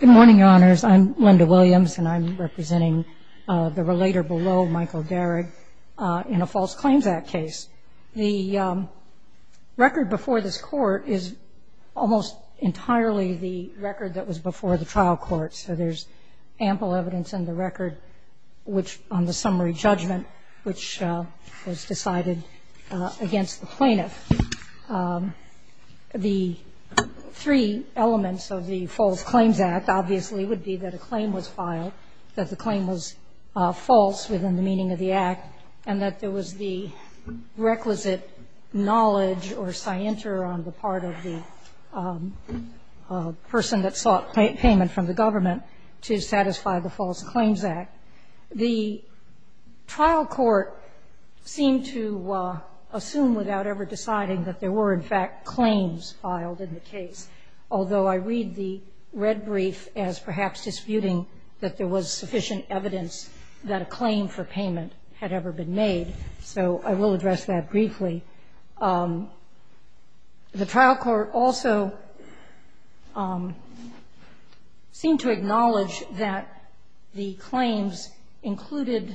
Good morning, Your Honors. I'm Linda Williams, and I'm representing the relator below, Michael Darig, in a False Claims Act case. The record before this Court is almost entirely the record that was before the trial court. So there's ample evidence in the record on the summary judgment, which was decided against the plaintiff. The three elements of the False Claims Act obviously would be that a claim was filed, that the claim was false within the meaning of the act, and that there was the requisite knowledge or scienter on the part of the person that sought payment from the government to satisfy the False Claims Act. The trial court seemed to assume without ever deciding that there were, in fact, claims filed in the case, although I read the red brief as perhaps disputing that there was sufficient evidence that a claim for payment had ever been made. So I will address that briefly. The trial court also seemed to acknowledge that the claims included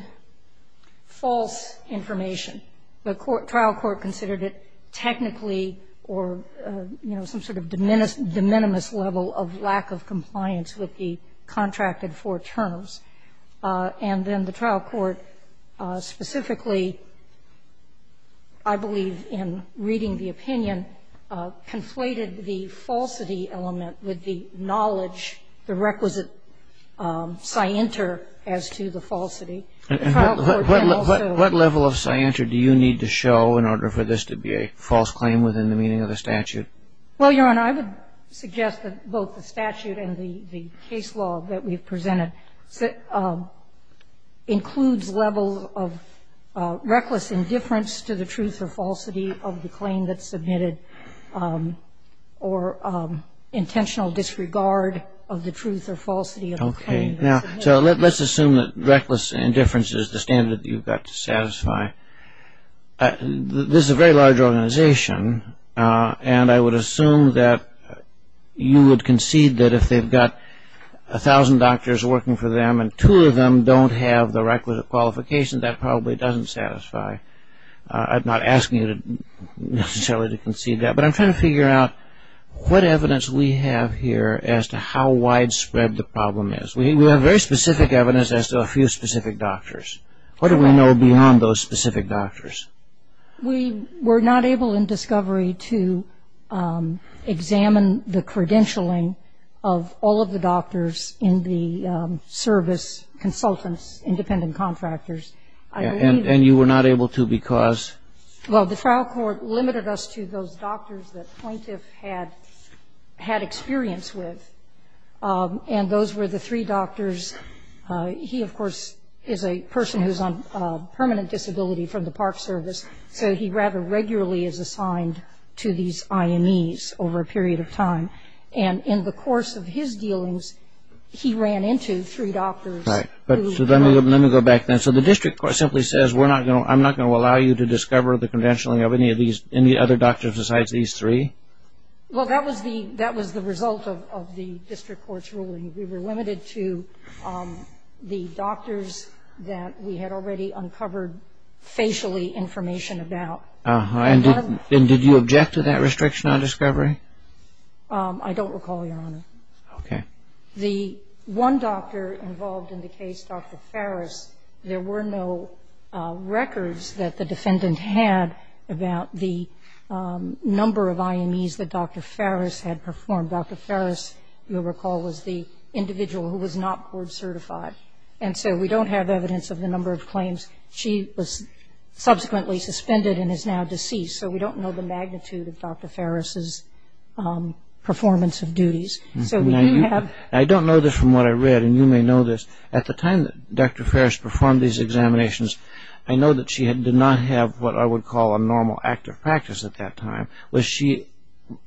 false information. The trial court considered it technically or, you know, some sort of de minimis level of lack of compliance with the contracted four terms. And then the trial court specifically, I believe in reading the opinion, conflated the falsity element with the knowledge, the requisite scienter as to the falsity. The trial court then also ---- Kagan. What level of scienter do you need to show in order for this to be a false claim within the meaning of the statute? Well, Your Honor, I would suggest that both the statute and the case law that we've presented includes levels of reckless indifference to the truth or falsity of the claim that's submitted or intentional disregard of the truth or falsity of the claim that's submitted. Okay. Now, so let's assume that reckless indifference is the standard that you've got to satisfy. This is a very large organization. And I would assume that you would concede that if they've got a thousand doctors working for them and two of them don't have the requisite qualification, that probably doesn't satisfy. I'm not asking you necessarily to concede that. But I'm trying to figure out what evidence we have here as to how widespread the problem is. We have very specific evidence as to a few specific doctors. What do we know beyond those specific doctors? We were not able in discovery to examine the credentialing of all of the doctors in the service consultants, independent contractors. And you were not able to because? Well, the trial court limited us to those doctors that Pointiff had experience with. And those were the three doctors. He, of course, is a person who's on permanent disability from the Park Service. So he rather regularly is assigned to these IMEs over a period of time. And in the course of his dealings, he ran into three doctors. Right. So let me go back then. So the district court simply says I'm not going to allow you to discover the credentialing of any other doctor besides these three? Well, that was the result of the district court's ruling. We were limited to the doctors that we had already uncovered facially information about. And did you object to that restriction on discovery? I don't recall, Your Honor. Okay. The one doctor involved in the case, Dr. Farris, there were no records that the defendant had about the number of IMEs that Dr. Farris had performed. Dr. Farris, you'll recall, was the individual who was not board certified. And so we don't have evidence of the number of claims. She was subsequently suspended and is now deceased. So we don't know the magnitude of Dr. Farris's performance of duties. I don't know this from what I read, and you may know this. At the time that Dr. Farris performed these examinations, I know that she did not have what I would call a normal active practice at that time. Was she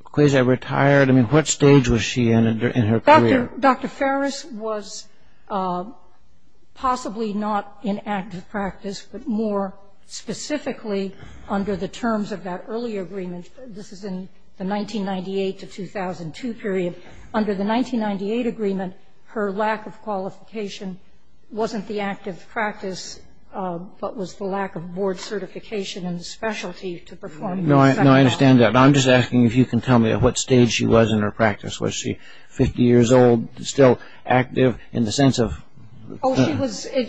quasi-retired? I mean, what stage was she in in her career? Dr. Farris was possibly not in active practice, but more specifically under the terms of that earlier agreement. This is in the 1998 to 2002 period. Under the 1998 agreement, her lack of qualification wasn't the active practice, but was the lack of board certification and the specialty to perform. No, I understand that. I'm just asking if you can tell me at what stage she was in her practice. Was she 50 years old, still active in the sense of? Oh,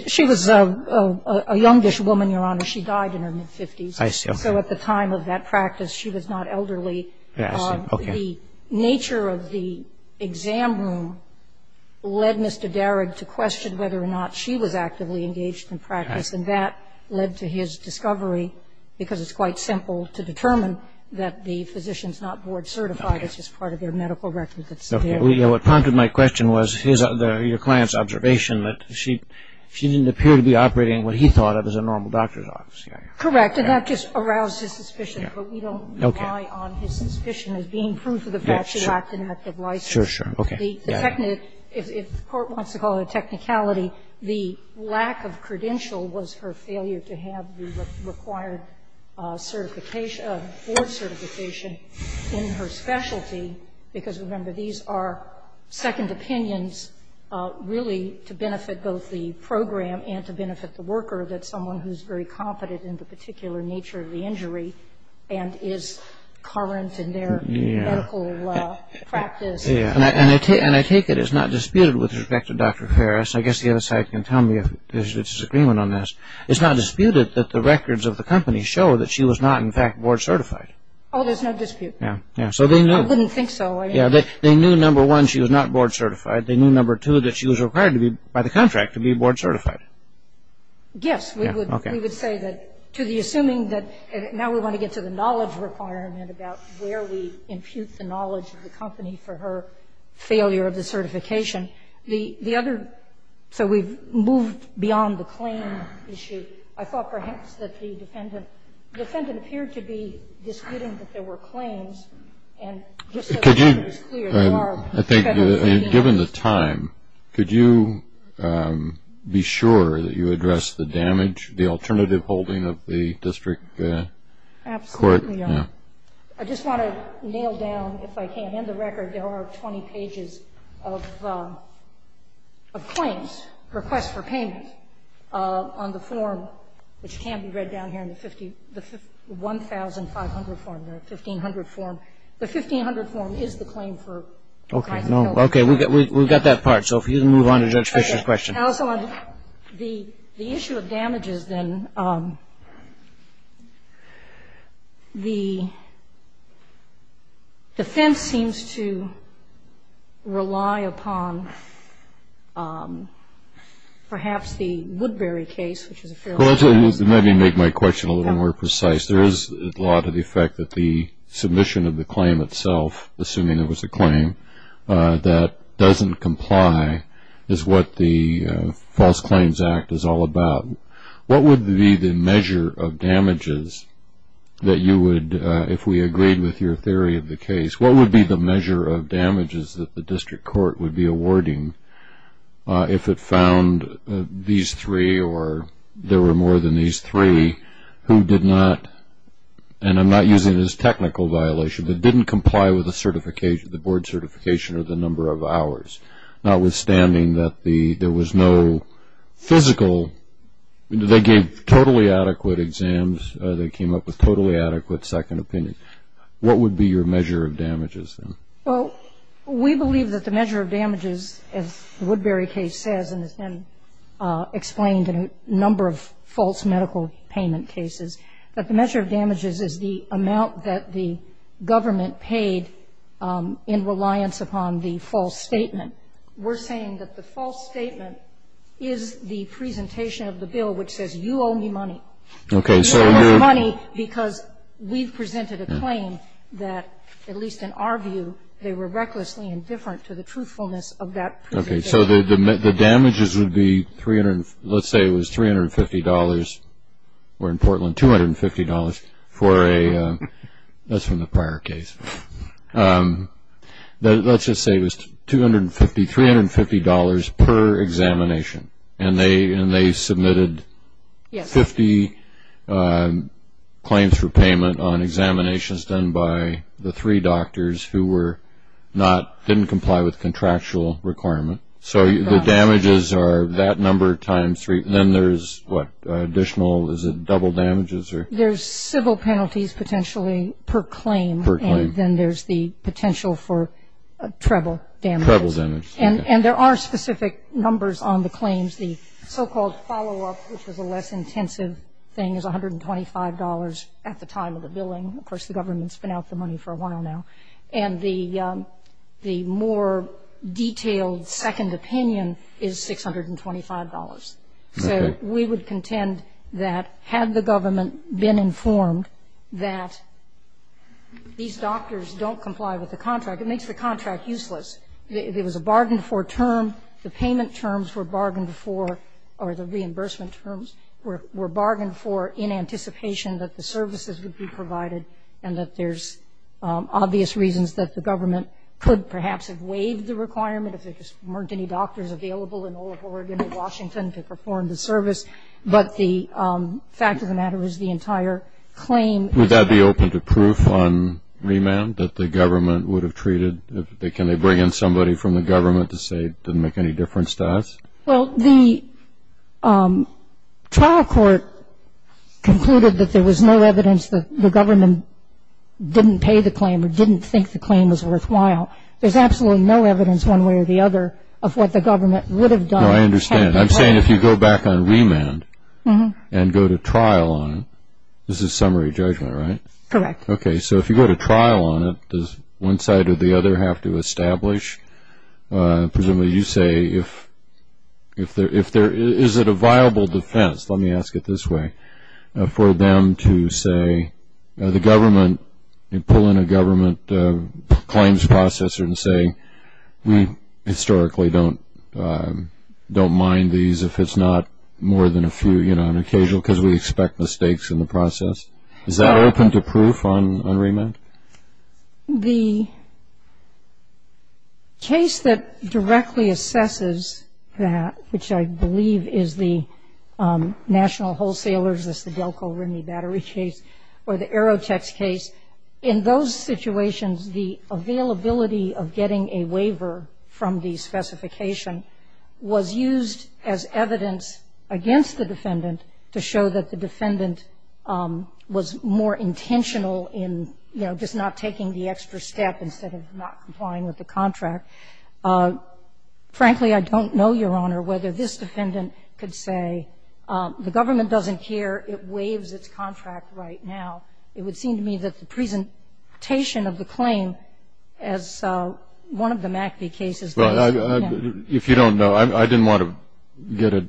she was a youngish woman, Your Honor. She died in her mid-50s. I see. So at the time of that practice, she was not elderly. I see. Okay. The nature of the exam room led Mr. Darragh to question whether or not she was actively engaged in practice. And that led to his discovery, because it's quite simple to determine that the physician's not board certified. It's just part of their medical record that's there. What prompted my question was your client's observation that she didn't appear to be operating what he thought of as a normal doctor's office. Correct. And that just aroused his suspicion, but we don't rely on his suspicion as being proof of the fact she lacked an active license. Sure, sure. Okay. If the Court wants to call it a technicality, the lack of credential was her failure to have the required board certification in her specialty, because, remember, these are second opinions, really to benefit both the program and to benefit the worker, that someone who's very competent in the particular nature of the injury and is current in their medical practice. And I take it it's not disputed with respect to Dr. Ferris. I guess the other side can tell me if there's a disagreement on this. It's not disputed that the records of the company show that she was not, in fact, board certified. Oh, there's no dispute. Yeah. I wouldn't think so. Yeah. They knew, number one, she was not board certified. They knew, number two, that she was required by the contract to be board certified. Yes. We would say that to the assuming that now we want to get to the knowledge requirement about where we impute the knowledge of the company for her failure of the certification. So we've moved beyond the claim issue. I thought perhaps that the defendant appeared to be disputing that there were claims. And just so everyone was clear, there are. Given the time, could you be sure that you addressed the damage, the alternative holding of the district court? Absolutely. I just want to nail down, if I can, in the record, there are 20 pages of claims, requests for payment on the form, which can be read down here in the 1500 form. The 1500 form is the claim for. Okay. We've got that part. So if you can move on to Judge Fischer's question. The issue of damages, then, the defense seems to rely upon perhaps the Woodbury case, which is a fairly good case. Let me make my question a little more precise. There is a law to the effect that the submission of the claim itself, assuming it was a claim, that doesn't comply is what the False Claims Act is all about. What would be the measure of damages that you would, if we agreed with your theory of the case, what would be the measure of damages that the district court would be awarding if it found these three or there were more than these three who did not, and I'm not using this as technical violation, that didn't comply with the certification, the board certification or the number of hours, notwithstanding that there was no physical, they gave totally adequate exams, they came up with totally adequate second opinion. What would be your measure of damages, then? Well, we believe that the measure of damages, as the Woodbury case says and has been explained in a number of false medical payment cases, that the measure of damages is the amount that the government paid in reliance upon the false statement. We're saying that the false statement is the presentation of the bill which says you owe me money. Okay. You owe me money because we've presented a claim that, at least in our view, they were recklessly indifferent to the truthfulness of that presentation. Okay. So the damages would be, let's say it was $350. We're in Portland, $250 for a, that's from the prior case. Let's just say it was $250, $350 per examination and they submitted 50 claims for payment on examinations done by the three doctors who were not, didn't comply with contractual requirement. So the damages are that number times three. And then there's what, additional, is it double damages? There's civil penalties potentially per claim. Per claim. And then there's the potential for treble damages. Treble damages. And there are specific numbers on the claims. The so-called follow-up, which is a less intensive thing, is $125 at the time of the billing. Of course, the government's been out the money for a while now. And the more detailed second opinion is $625. Okay. So we would contend that had the government been informed that these doctors don't comply with the contract, it makes the contract useless. It was a bargained-for term. The payment terms were bargained for, or the reimbursement terms were bargained for in anticipation that the services would be provided, and that there's obvious reasons that the government could perhaps have waived the requirement if there just weren't any doctors available in all of Oregon or Washington to perform the service. But the fact of the matter is the entire claim. Would that be open to proof on remand that the government would have treated, can they bring in somebody from the government to say it didn't make any difference to us? Well, the trial court concluded that there was no evidence that the government didn't pay the claim or didn't think the claim was worthwhile. There's absolutely no evidence one way or the other of what the government would have done. No, I understand. I'm saying if you go back on remand and go to trial on it, this is summary judgment, right? Correct. Okay. So if you go to trial on it, does one side or the other have to establish? Presumably you say if there is a viable defense, let me ask it this way, for them to say the government and pull in a government claims processor and say we historically don't mind these if it's not more than a few, you know, an occasional because we expect mistakes in the process. Is that open to proof on remand? The case that directly assesses that, which I believe is the National Wholesalers, that's the Delco-Rimney battery case, or the Aerotex case, in those situations, the availability of getting a waiver from the specification was used as evidence against the defendant to show that the defendant was more intentional in, you know, just not taking the extra step instead of not complying with the contract. Frankly, I don't know, Your Honor, whether this defendant could say the government doesn't care, it waives its contract right now. It would seem to me that the presentation of the claim as one of the MACBI cases. If you don't know, I didn't want to get a...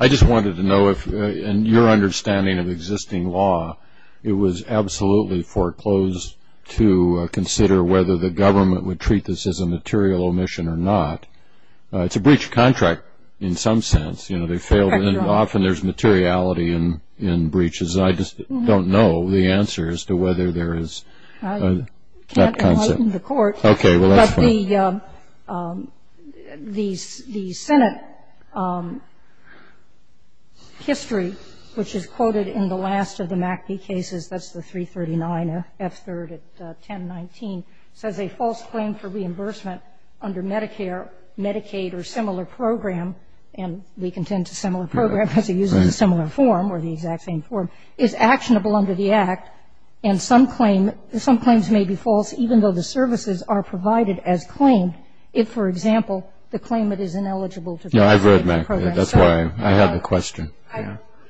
I just wanted to know if, in your understanding of existing law, it was absolutely foreclosed to consider whether the government would treat this as a material omission or not. It's a breach of contract in some sense. Often there's materiality in breaches. I just don't know the answer as to whether there is that concept. In the court, the Senate history, which is quoted in the last of the MACBI cases, that's the 339, F-3rd at 1019, says a false claim for reimbursement under Medicare, Medicaid, or similar program, and we contend to similar program because it uses a similar form or the exact same form, is actionable under the Act. And some claims may be false, even though the services are provided as claimed, if, for example, the claimant is ineligible to... Yeah, I've read MACBI. That's why I have a question.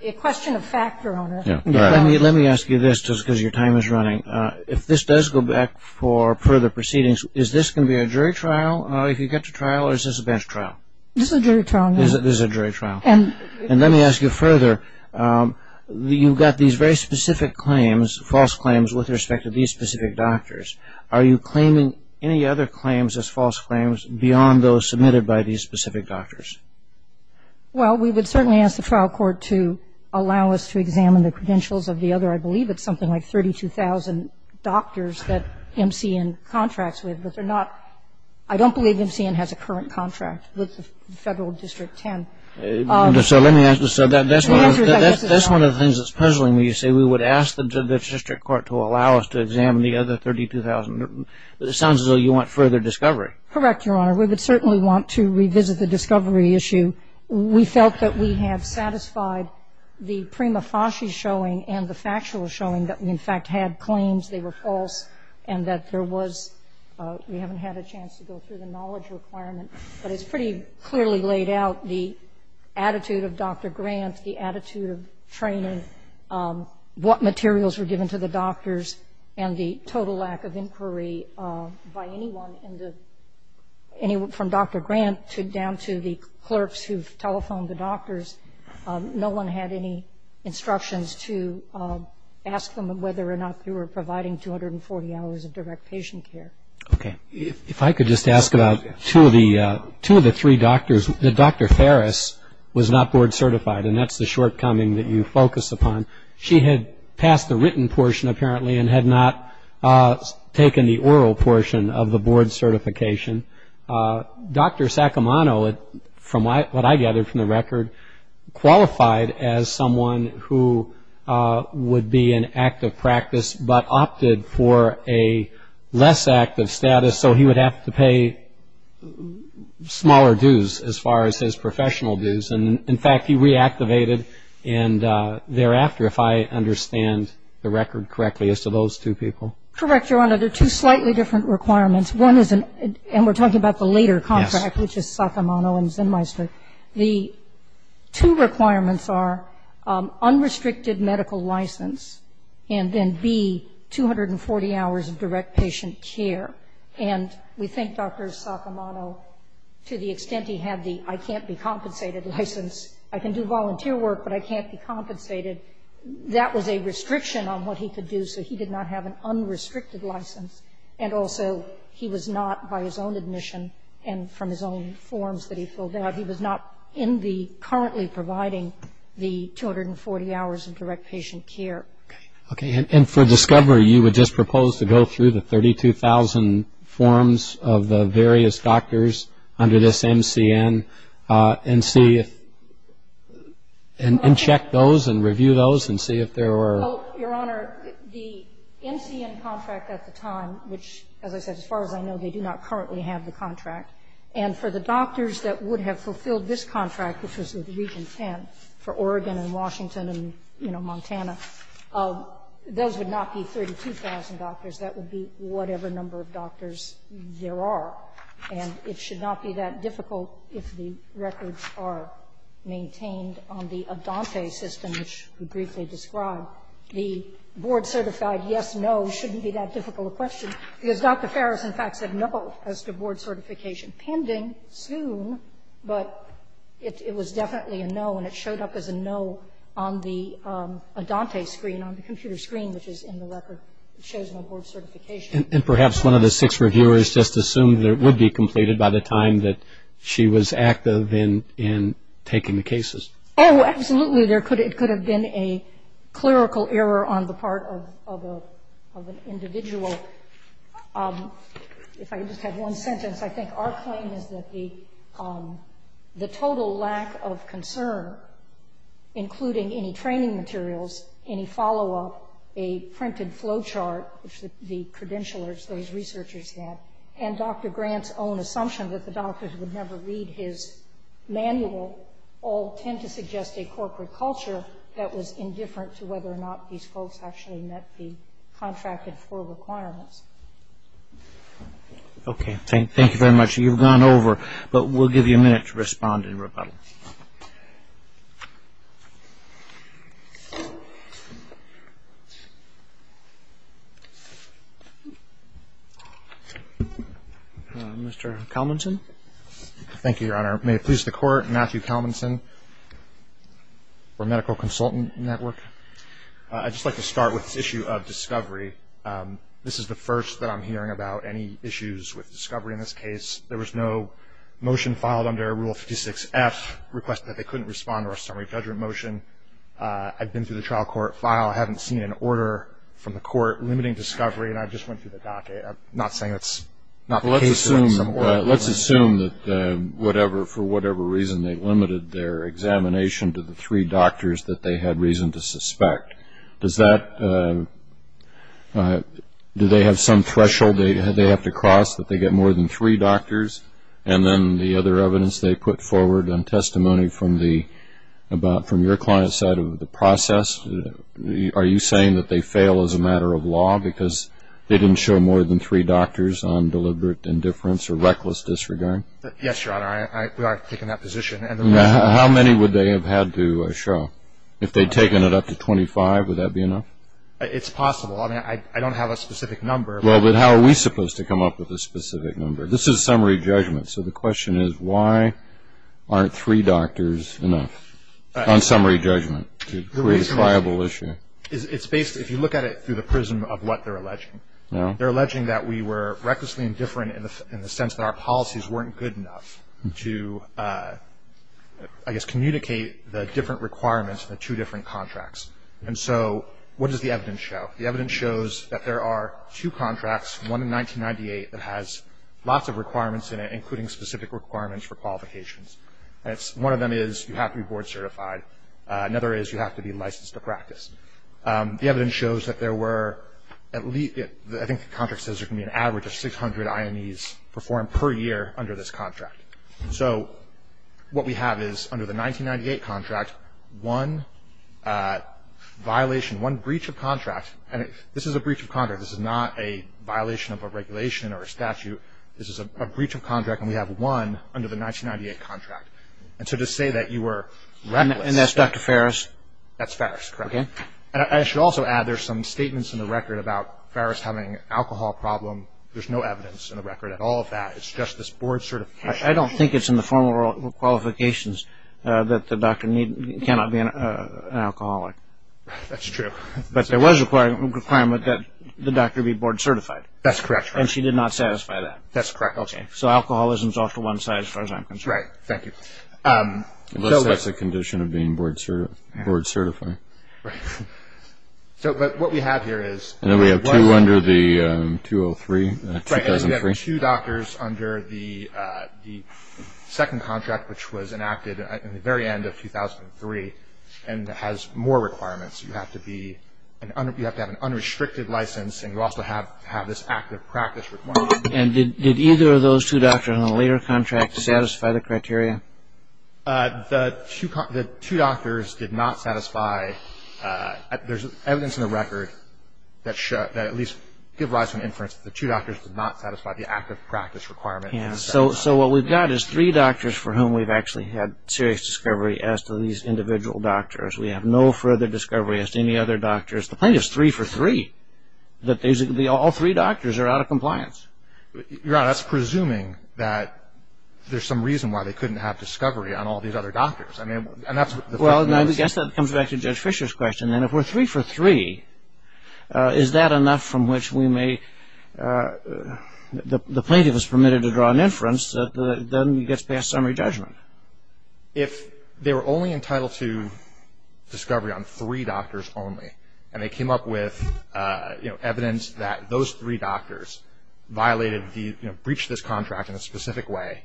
A question of factor on it. Let me ask you this, just because your time is running. If this does go back for further proceedings, is this going to be a jury trial, if you get to trial, or is this a bench trial? This is a jury trial, yes. This is a jury trial. And let me ask you further. You've got these very specific claims, false claims, with respect to these specific doctors. Are you claiming any other claims as false claims beyond those submitted by these specific doctors? Well, we would certainly ask the trial court to allow us to examine the credentials of the other, I believe it's something like 32,000 doctors that MCN contracts with, but they're not – I don't believe MCN has a current contract with the Federal District 10. So let me ask you, so that's one of the things that's puzzling me. You say we would ask the district court to allow us to examine the other 32,000. It sounds as though you want further discovery. Correct, Your Honor. We would certainly want to revisit the discovery issue. We felt that we have satisfied the prima facie showing and the factual showing that we in fact had claims, they were false, and that there was – we haven't had a chance to go through the knowledge requirement, but it's pretty clearly laid out the attitude of Dr. Grant, the attitude of training, what materials were given to the doctors, and the total lack of inquiry by anyone from Dr. Grant down to the clerks who've telephoned the doctors. No one had any instructions to ask them whether or not they were providing 240 hours of direct patient care. Okay. If I could just ask about two of the three doctors, Dr. Ferris was not board certified, and that's the shortcoming that you focus upon. She had passed the written portion, apparently, and had not taken the oral portion of the board certification. Dr. Saccomano, what I gathered from the record, qualified as someone who would be in active practice but opted for a less active status, so he would have to pay smaller dues as far as his professional dues. And, in fact, he reactivated, and thereafter, if I understand the record correctly, as to those two people. Correct, Your Honor. They're two slightly different requirements. One is an – and we're talking about the later contract, which is Saccomano and Zinmeister. The two requirements are unrestricted medical license, and then B, 240 hours of direct patient care. And we think Dr. Saccomano, to the extent he had the, I can't be compensated license, I can do volunteer work, but I can't be compensated, that was a restriction on what he could do, so he did not have an unrestricted license, and also he was not, by his own admission and from his own forms that he filled out, he was not currently providing the 240 hours of direct patient care. Okay. And for discovery, you would just propose to go through the 32,000 forms of the various doctors under this MCN and see if – and check those and review those and see if there were – Well, Your Honor, the MCN contract at the time, which, as I said, as far as I know, they do not currently have the contract. And for the doctors that would have fulfilled this contract, which was with Region 10, for Oregon and Washington and, you know, Montana, those would not be 32,000 doctors. That would be whatever number of doctors there are. And it should not be that difficult if the records are maintained on the Adante system, which we briefly described. The board-certified yes-no shouldn't be that difficult a question, because Dr. Farris, in fact, said no as to board certification. Pending, soon, but it was definitely a no, and it showed up as a no on the Adante screen, on the computer screen, which is in the record. It shows no board certification. And perhaps one of the six reviewers just assumed that it would be completed by the time that she was active in taking the cases. Oh, absolutely. There could have been a clerical error on the part of an individual. If I could just have one sentence. I think our claim is that the total lack of concern, including any training materials, any follow-up, a printed flow chart, which the credentialers, those researchers had, and Dr. Grant's own assumption that the doctors would never read his manual, all tend to suggest a corporate culture that was indifferent to whether or not these folks actually met the contracted floor requirements. Okay. Thank you very much. You've gone over, but we'll give you a minute to respond in rebuttal. Mr. Calmonson. Thank you, Your Honor. May it please the Court, Matthew Calmonson for Medical Consultant Network. I'd just like to start with this issue of discovery. This is the first that I'm hearing about any issues with discovery in this case. There was no motion filed under Rule 56-F. Request that they couldn't respond or a summary judgment motion. I've been through the trial court file. I haven't seen an order from the court limiting discovery, and I just went through the docket. I'm not saying it's not paced in some order. Let's assume that whatever, for whatever reason, they limited their examination to the three doctors that they had reason to suspect. Does that do they have some threshold they have to cross, that they get more than three doctors? And then the other evidence they put forward on testimony from your client's side of the process, are you saying that they fail as a matter of law because they didn't show more than three doctors on deliberate indifference or reckless disregard? Yes, Your Honor. We are taking that position. How many would they have had to show? If they'd taken it up to 25, would that be enough? It's possible. I mean, I don't have a specific number. Well, but how are we supposed to come up with a specific number? This is summary judgment, so the question is, why aren't three doctors enough on summary judgment to create a triable issue? It's based, if you look at it through the prism of what they're alleging. They're alleging that we were recklessly indifferent in the sense that our policies weren't good enough to, I guess, communicate the different requirements of the two different contracts. And so what does the evidence show? The evidence shows that there are two contracts, one in 1998, that has lots of requirements in it, including specific requirements for qualifications. And one of them is you have to be board certified. Another is you have to be licensed to practice. The evidence shows that there were at least, I think the contract says there can be an average of 600 IMEs performed per year under this contract. So what we have is, under the 1998 contract, one violation, one breach of contract. And this is a breach of contract. This is not a violation of a regulation or a statute. This is a breach of contract, and we have one under the 1998 contract. And so to say that you were reckless. And that's Dr. Farris? That's Farris, correct. Okay. And I should also add there's some statements in the record about Farris having an alcohol problem. There's no evidence in the record at all of that. It's just this board certification. I don't think it's in the formal qualifications that the doctor cannot be an alcoholic. That's true. But there was a requirement that the doctor be board certified. That's correct. And she did not satisfy that. That's correct. Okay. So alcoholism is off to one side as far as I'm concerned. Right. Thank you. Unless that's a condition of being board certified. Right. But what we have here is. And then we have two under the 2003. Right. We have two doctors under the second contract, which was enacted in the very end of 2003, and has more requirements. You have to be. You have to have an unrestricted license, and you also have to have this active practice requirement. And did either of those two doctors in the later contract satisfy the criteria? The two doctors did not satisfy. There's evidence in the record that at least give rise to an inference that the two doctors did not satisfy the active practice requirement. So what we've got is three doctors for whom we've actually had serious discovery as to these individual doctors. We have no further discovery as to any other doctors. The point is three for three, that basically all three doctors are out of compliance. Your Honor, that's presuming that there's some reason why they couldn't have discovery on all these other doctors. Well, I guess that comes back to Judge Fischer's question. And if we're three for three, is that enough from which we may, the plaintiff is permitted to draw an inference that then he gets past summary judgment? If they were only entitled to discovery on three doctors only, and they came up with evidence that those three doctors violated, breached this contract in a specific way,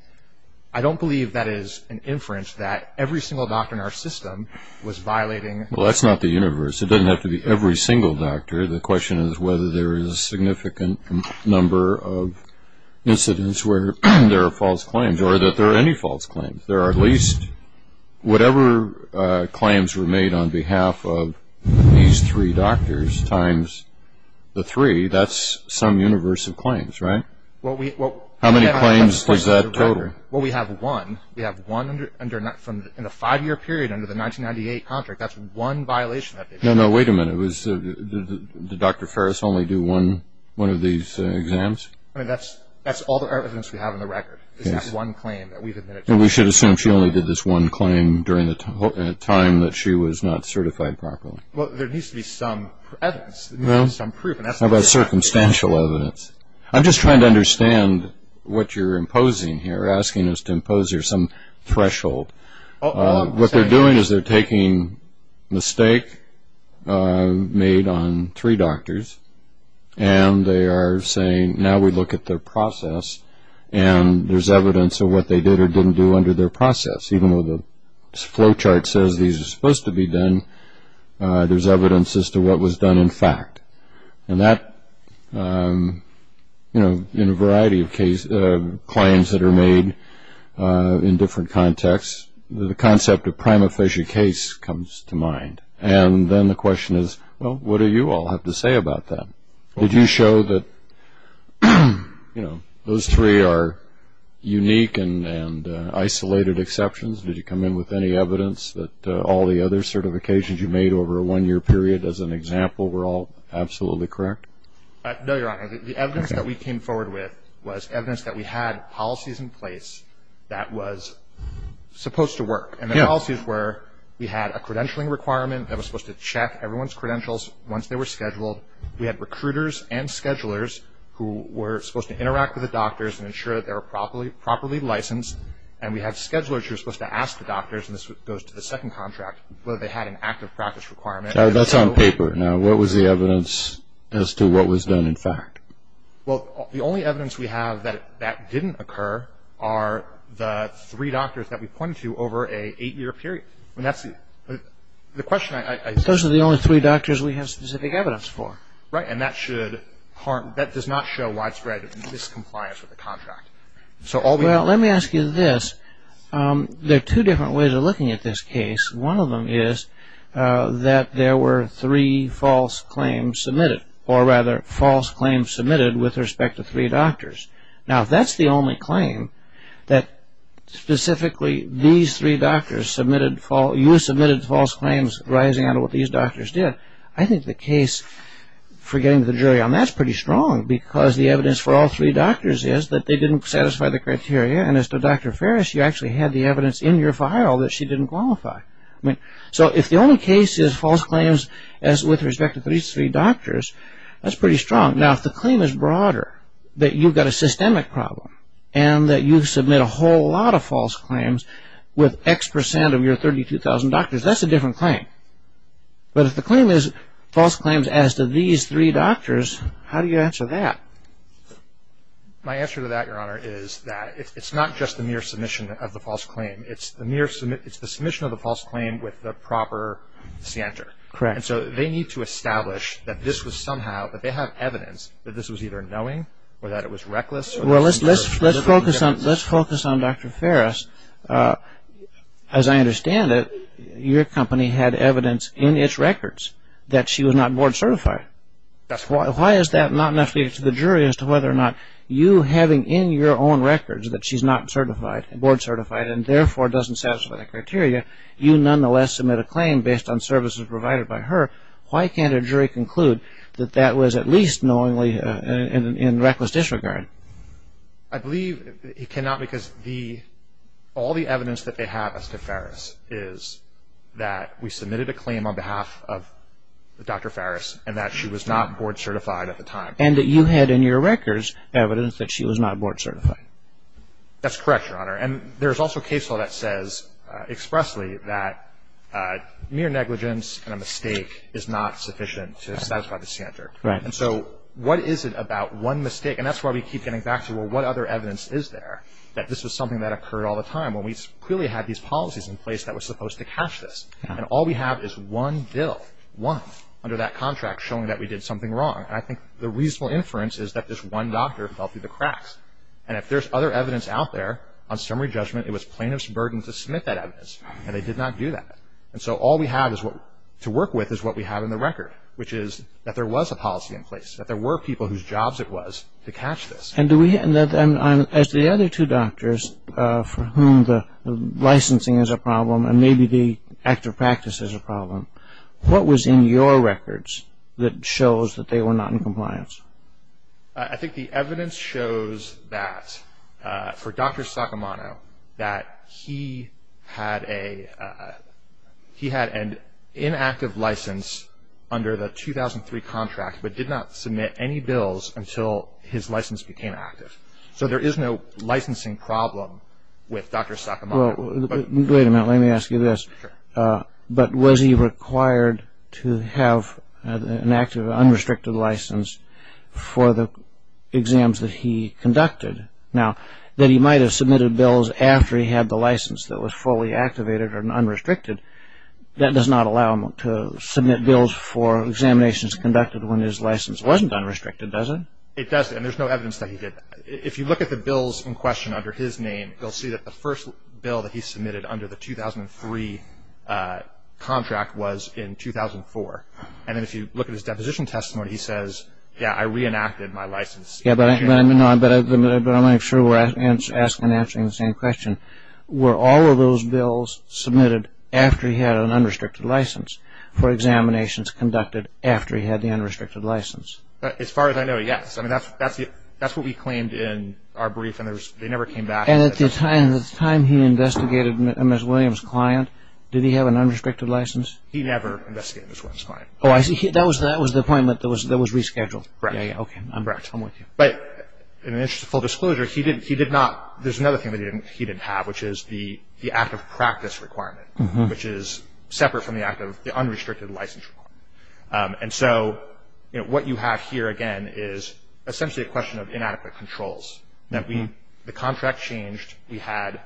I don't believe that is an inference that every single doctor in our system was violating. Well, that's not the universe. It doesn't have to be every single doctor. The question is whether there is a significant number of incidents where there are false claims or that there are any false claims. There are at least whatever claims were made on behalf of these three doctors times the three, that's some universe of claims, right? How many claims does that total? Well, we have one. We have one in the five-year period under the 1998 contract. That's one violation. No, no. Wait a minute. Did Dr. Ferris only do one of these exams? I mean, that's all the evidence we have on the record is that one claim that we've admitted to. And we should assume she only did this one claim during the time that she was not certified properly. Well, there needs to be some evidence, some proof. How about circumstantial evidence? I'm just trying to understand what you're imposing here, asking us to impose here some threshold. What they're doing is they're taking mistake made on three doctors, and they are saying now we look at their process, and there's evidence of what they did or didn't do under their process. Even though the flow chart says these are supposed to be done, there's evidence as to what was done in fact. And that, you know, in a variety of claims that are made in different contexts, the concept of prima facie case comes to mind. And then the question is, well, what do you all have to say about that? Did you show that, you know, those three are unique and isolated exceptions? Did you come in with any evidence that all the other certifications you made over a one-year period, as an example, were all absolutely correct? No, Your Honor. The evidence that we came forward with was evidence that we had policies in place that was supposed to work. And the policies were we had a credentialing requirement that was supposed to check everyone's credentials once they were scheduled. We had recruiters and schedulers who were supposed to interact with the doctors and ensure that they were properly licensed. And we had schedulers who were supposed to ask the doctors, and this goes to the second contract, whether they had an active practice requirement. That's on paper. Now, what was the evidence as to what was done in fact? Well, the only evidence we have that that didn't occur are the three doctors that we pointed to over an eight-year period. And that's the question I see. Those are the only three doctors we have specific evidence for. Right. And that should harm – that does not show widespread miscompliance with the contract. Well, let me ask you this. There are two different ways of looking at this case. One of them is that there were three false claims submitted, or rather false claims submitted with respect to three doctors. Now, if that's the only claim that specifically these three doctors submitted false – you submitted false claims arising out of what these doctors did, I think the case for getting to the jury on that is pretty strong because the evidence for all three doctors is that they didn't satisfy the criteria. And as to Dr. Ferris, you actually had the evidence in your file that she didn't qualify. So if the only case is false claims with respect to these three doctors, that's pretty strong. Now, if the claim is broader, that you've got a systemic problem and that you've submitted a whole lot of false claims with X percent of your 32,000 doctors, that's a different claim. But if the claim is false claims as to these three doctors, how do you answer that? My answer to that, Your Honor, is that it's not just the mere submission of the false claim. It's the submission of the false claim with the proper center. And so they need to establish that this was somehow – that they have evidence that this was either knowing or that it was reckless. Well, let's focus on Dr. Ferris. As I understand it, your company had evidence in its records that she was not board certified. Why is that not enough to the jury as to whether or not you having in your own records that she's not board certified and therefore doesn't satisfy that criteria, you nonetheless submit a claim based on services provided by her? Why can't a jury conclude that that was at least knowingly in reckless disregard? I believe it cannot because all the evidence that they have as to Ferris is that we submitted a claim on behalf of Dr. Ferris and that she was not board certified at the time. And that you had in your records evidence that she was not board certified. That's correct, Your Honor. And there's also a case law that says expressly that mere negligence and a mistake is not sufficient to satisfy the center. Right. And so what is it about one mistake? And that's why we keep getting back to, well, what other evidence is there that this was something that occurred all the time when we clearly had these policies in place that were supposed to catch this. And all we have is one bill, one, under that contract showing that we did something wrong. And I think the reasonable inference is that this one doctor fell through the cracks. And if there's other evidence out there, on summary judgment, it was plaintiff's burden to submit that evidence, and they did not do that. And so all we have to work with is what we have in the record, which is that there was a policy in place, that there were people whose jobs it was to catch this. And as to the other two doctors for whom the licensing is a problem and maybe the active practice is a problem, what was in your records that shows that they were not in compliance? I think the evidence shows that for Dr. Sacamano, that he had an inactive license under the 2003 contract but did not submit any bills until his license became active. So there is no licensing problem with Dr. Sacamano. Wait a minute, let me ask you this. But was he required to have an active, unrestricted license for the exams that he conducted? Now, that he might have submitted bills after he had the license that was fully activated or unrestricted, that does not allow him to submit bills for examinations conducted when his license wasn't unrestricted, does it? It doesn't, and there's no evidence that he did. If you look at the bills in question under his name, you'll see that the first bill that he submitted under the 2003 contract was in 2004. And then if you look at his deposition testimony, he says, yeah, I reenacted my license. Yeah, but I want to make sure we're asking and answering the same question. Were all of those bills submitted after he had an unrestricted license for examinations conducted after he had the unrestricted license? As far as I know, yes. I mean, that's what we claimed in our brief, and they never came back. And at the time he investigated Ms. Williams' client, did he have an unrestricted license? He never investigated Ms. Williams' client. Oh, I see. That was the appointment that was rescheduled. Correct. Okay, I'm with you. But in the interest of full disclosure, he did not – there's another thing that he didn't have, which is the act of practice requirement, which is separate from the act of the unrestricted license requirement. And so what you have here, again, is essentially a question of inadequate controls. The contract changed. We had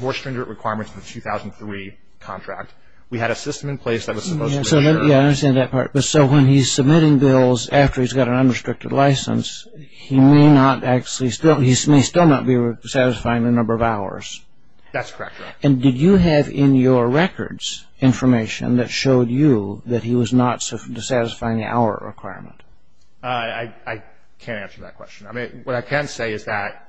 more stringent requirements in the 2003 contract. We had a system in place that was supposed to make sure – Yeah, I understand that part. But so when he's submitting bills after he's got an unrestricted license, he may not actually – he may still not be satisfying the number of hours. That's correct, Your Honor. And did you have in your records information that showed you that he was not satisfying the hour requirement? I can't answer that question. I mean, what I can say is that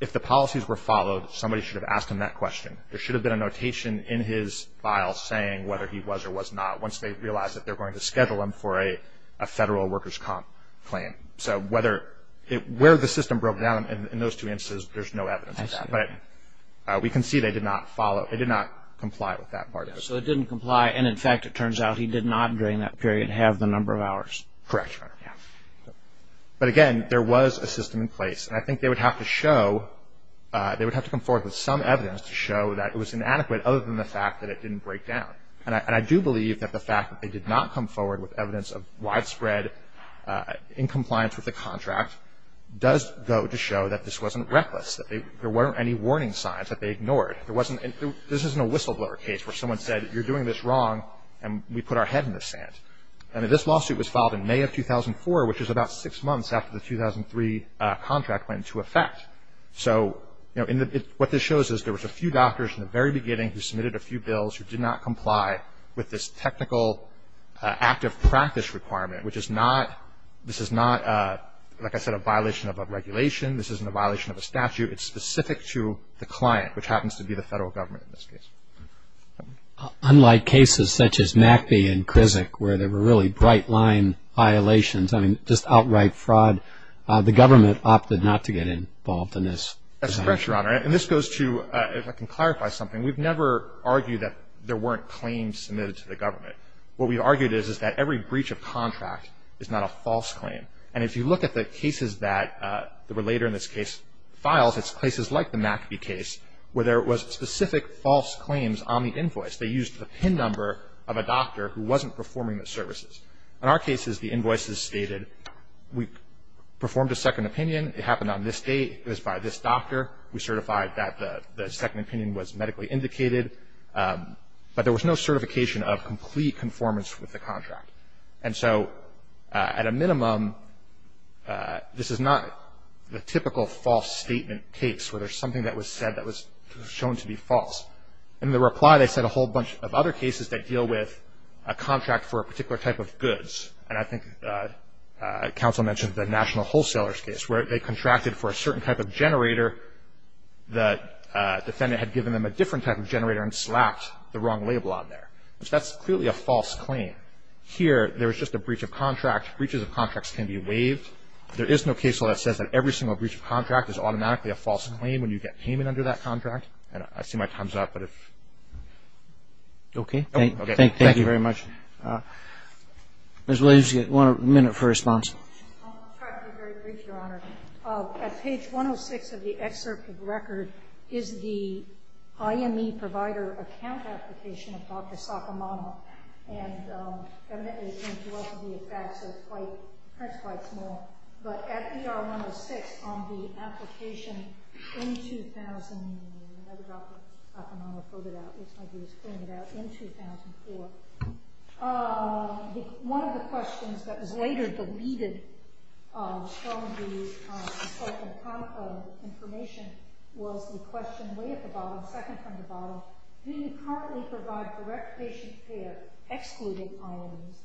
if the policies were followed, somebody should have asked him that question. There should have been a notation in his file saying whether he was or was not once they realized that they were going to schedule him for a federal workers' comp claim. So whether – where the system broke down in those two instances, there's no evidence of that. But we can see they did not follow – they did not comply with that part of it. So they didn't comply. And, in fact, it turns out he did not, during that period, have the number of hours. Correct, Your Honor. But, again, there was a system in place. And I think they would have to show – they would have to come forward with some evidence to show that it was inadequate, other than the fact that it didn't break down. And I do believe that the fact that they did not come forward with evidence of widespread incompliance with the contract does go to show that this wasn't reckless, that there weren't any warning signs that they ignored. There wasn't – this isn't a whistleblower case where someone said you're doing this wrong and we put our head in the sand. I mean, this lawsuit was filed in May of 2004, which is about six months after the 2003 contract went into effect. So, you know, what this shows is there was a few doctors in the very beginning who submitted a few bills who did not comply with this technical active practice requirement, which is not – this is not, like I said, a violation of a regulation. This isn't a violation of a statute. It's specific to the client, which happens to be the federal government in this case. Unlike cases such as Macbee and Krizak, where there were really bright-line violations, I mean, just outright fraud, the government opted not to get involved in this. That's correct, Your Honor. And this goes to – if I can clarify something. We've never argued that there weren't claims submitted to the government. What we've argued is that every breach of contract is not a false claim. And if you look at the cases that were later in this case filed, it's places like the Macbee case where there was specific false claims on the invoice. They used the PIN number of a doctor who wasn't performing the services. In our cases, the invoices stated we performed a second opinion. It happened on this date. It was by this doctor. We certified that the second opinion was medically indicated. But there was no certification of complete conformance with the contract. And so at a minimum, this is not the typical false statement case where there's something that was said that was shown to be false. In the reply, they said a whole bunch of other cases that deal with a contract for a particular type of goods. And I think counsel mentioned the National Wholesalers case, where they contracted for a certain type of generator. The defendant had given them a different type of generator and slapped the wrong label on there. That's clearly a false claim. Here, there was just a breach of contract. Breaches of contracts can be waived. There is no case law that says that every single breach of contract is automatically a false claim when you get payment under that contract. I see my time's up. Okay. Thank you very much. Ms. Williams, you have one minute for response. I'll try to be very brief, Your Honor. At page 106 of the excerpt of the record is the IME provider account application of Dr. Sakamano. And evidently, it came to us via fax, so the print's quite small. But at ER 106 on the application in 2000, another Dr. Sakamano filled it out. It looks like he was filling it out in 2004. One of the questions that was later deleted from the spoken-confirm information was the question way at the bottom, second from the bottom, do you currently provide direct patient care, excluding IOMs?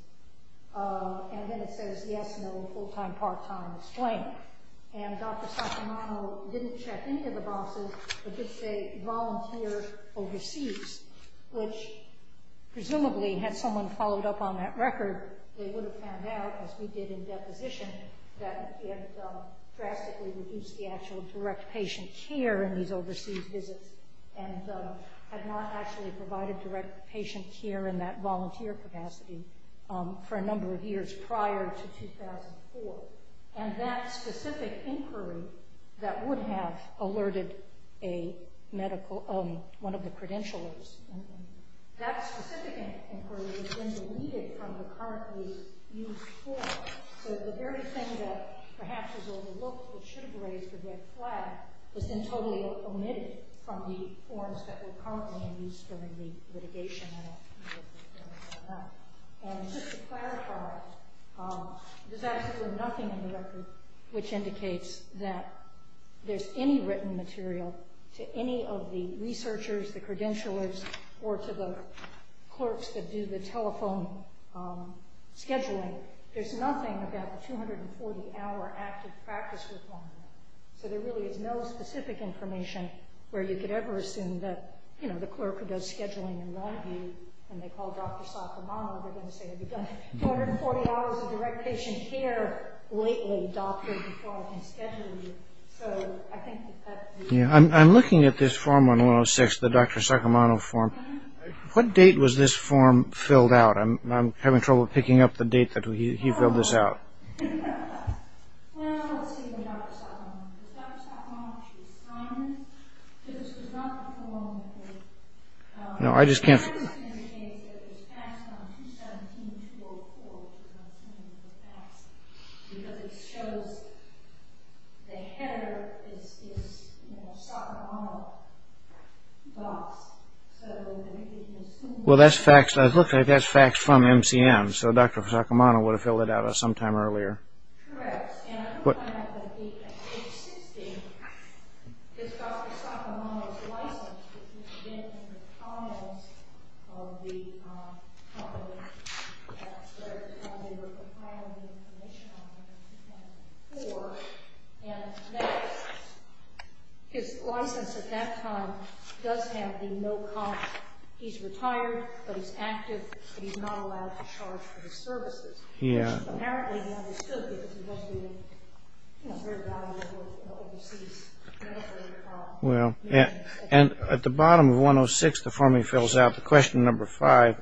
And then it says, yes, no, full-time, part-time, it's claimed. And Dr. Sakamano didn't check any of the boxes, but did say volunteer overseas, which presumably had someone followed up on that record, they would have found out, as we did in deposition, that it drastically reduced the actual direct patient care in these overseas visits and had not actually provided direct patient care in that volunteer capacity for a number of years prior to 2004. And that specific inquiry that would have alerted one of the credentialers, that specific inquiry has been deleted from the currently used form. So the very thing that perhaps is overlooked that should have raised the red flag was then totally omitted from the forms that were currently in use during the litigation. And just to clarify, there's absolutely nothing in the record which indicates that there's any written material to any of the researchers, the credentialers, or to the clerks that do the telephone scheduling. There's nothing about the 240-hour active practice requirement. So there really is no specific information where you could ever assume that, you know, the clerk who does scheduling in Longview, when they call Dr. Sakamano, they're going to say, Have you done 240 hours of direct patient care lately, doctor, before I can schedule you? I'm looking at this form on 106, the Dr. Sakamano form. What date was this form filled out? I'm having trouble picking up the date that he filled this out. Well, let's see where Dr. Sakamano is. Dr. Sakamano, she was signed. This was not before Longview. No, I just can't see. It was passed on 217-204, because it shows the header is, you know, Sakamano box. Well, that's faxed. It looks like that's faxed from MCM. Okay, so Dr. Sakamano would have filled it out sometime earlier. Correct. And I don't find that the existing is Dr. Sakamano's license, which has been in the files of the hospital where they were filing the information on him before. And his license at that time does have the no comment. He's retired, but he's active, and he's not allowed to charge for his services, which apparently he understood because he doesn't do a very valuable work overseas. Well, and at the bottom of 106, the form he fills out, the question number five,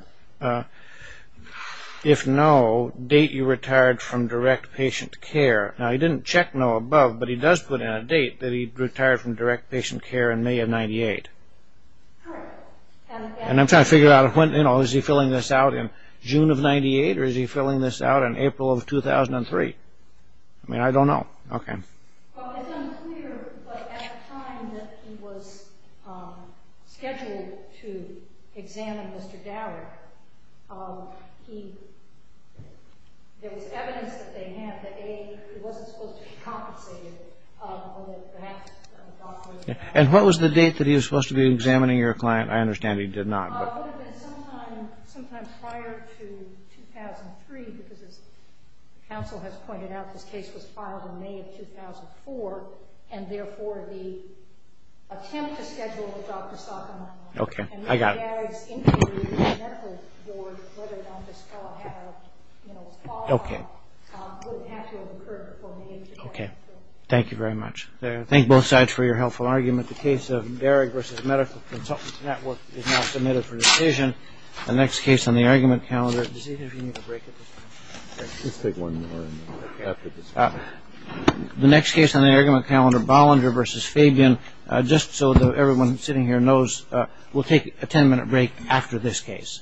if no, date you retired from direct patient care. Now, he didn't check no above, but he does put in a date that he retired from direct patient care in May of 98. Correct. And I'm trying to figure out, you know, is he filling this out in June of 98, or is he filling this out in April of 2003? I mean, I don't know. Okay. Well, it's unclear, but at a time that he was scheduled to examine Mr. Dower, there was evidence that they had that he wasn't supposed to be compensated on the fact that the doctor was not there. And what was the date that he was supposed to be examining your client? I understand he did not. It would have been sometime prior to 2003, because as counsel has pointed out, this case was filed in May of 2004, and, therefore, the attempt to schedule the doctor stopped on that one. Okay. I got it. And Darragh's inquiry to the medical board, whether or not this file was qualified, wouldn't have to have occurred before May of 2004. Okay. Thank you very much. Thank you both sides for your helpful argument. The case of Darragh v. Medical Consultants Network is now submitted for decision. The next case on the argument calendar – does either of you need a break at this point? Let's take one more after this. The next case on the argument calendar, Bollinger v. Fabian, just so that everyone sitting here knows, we'll take a ten-minute break after this case.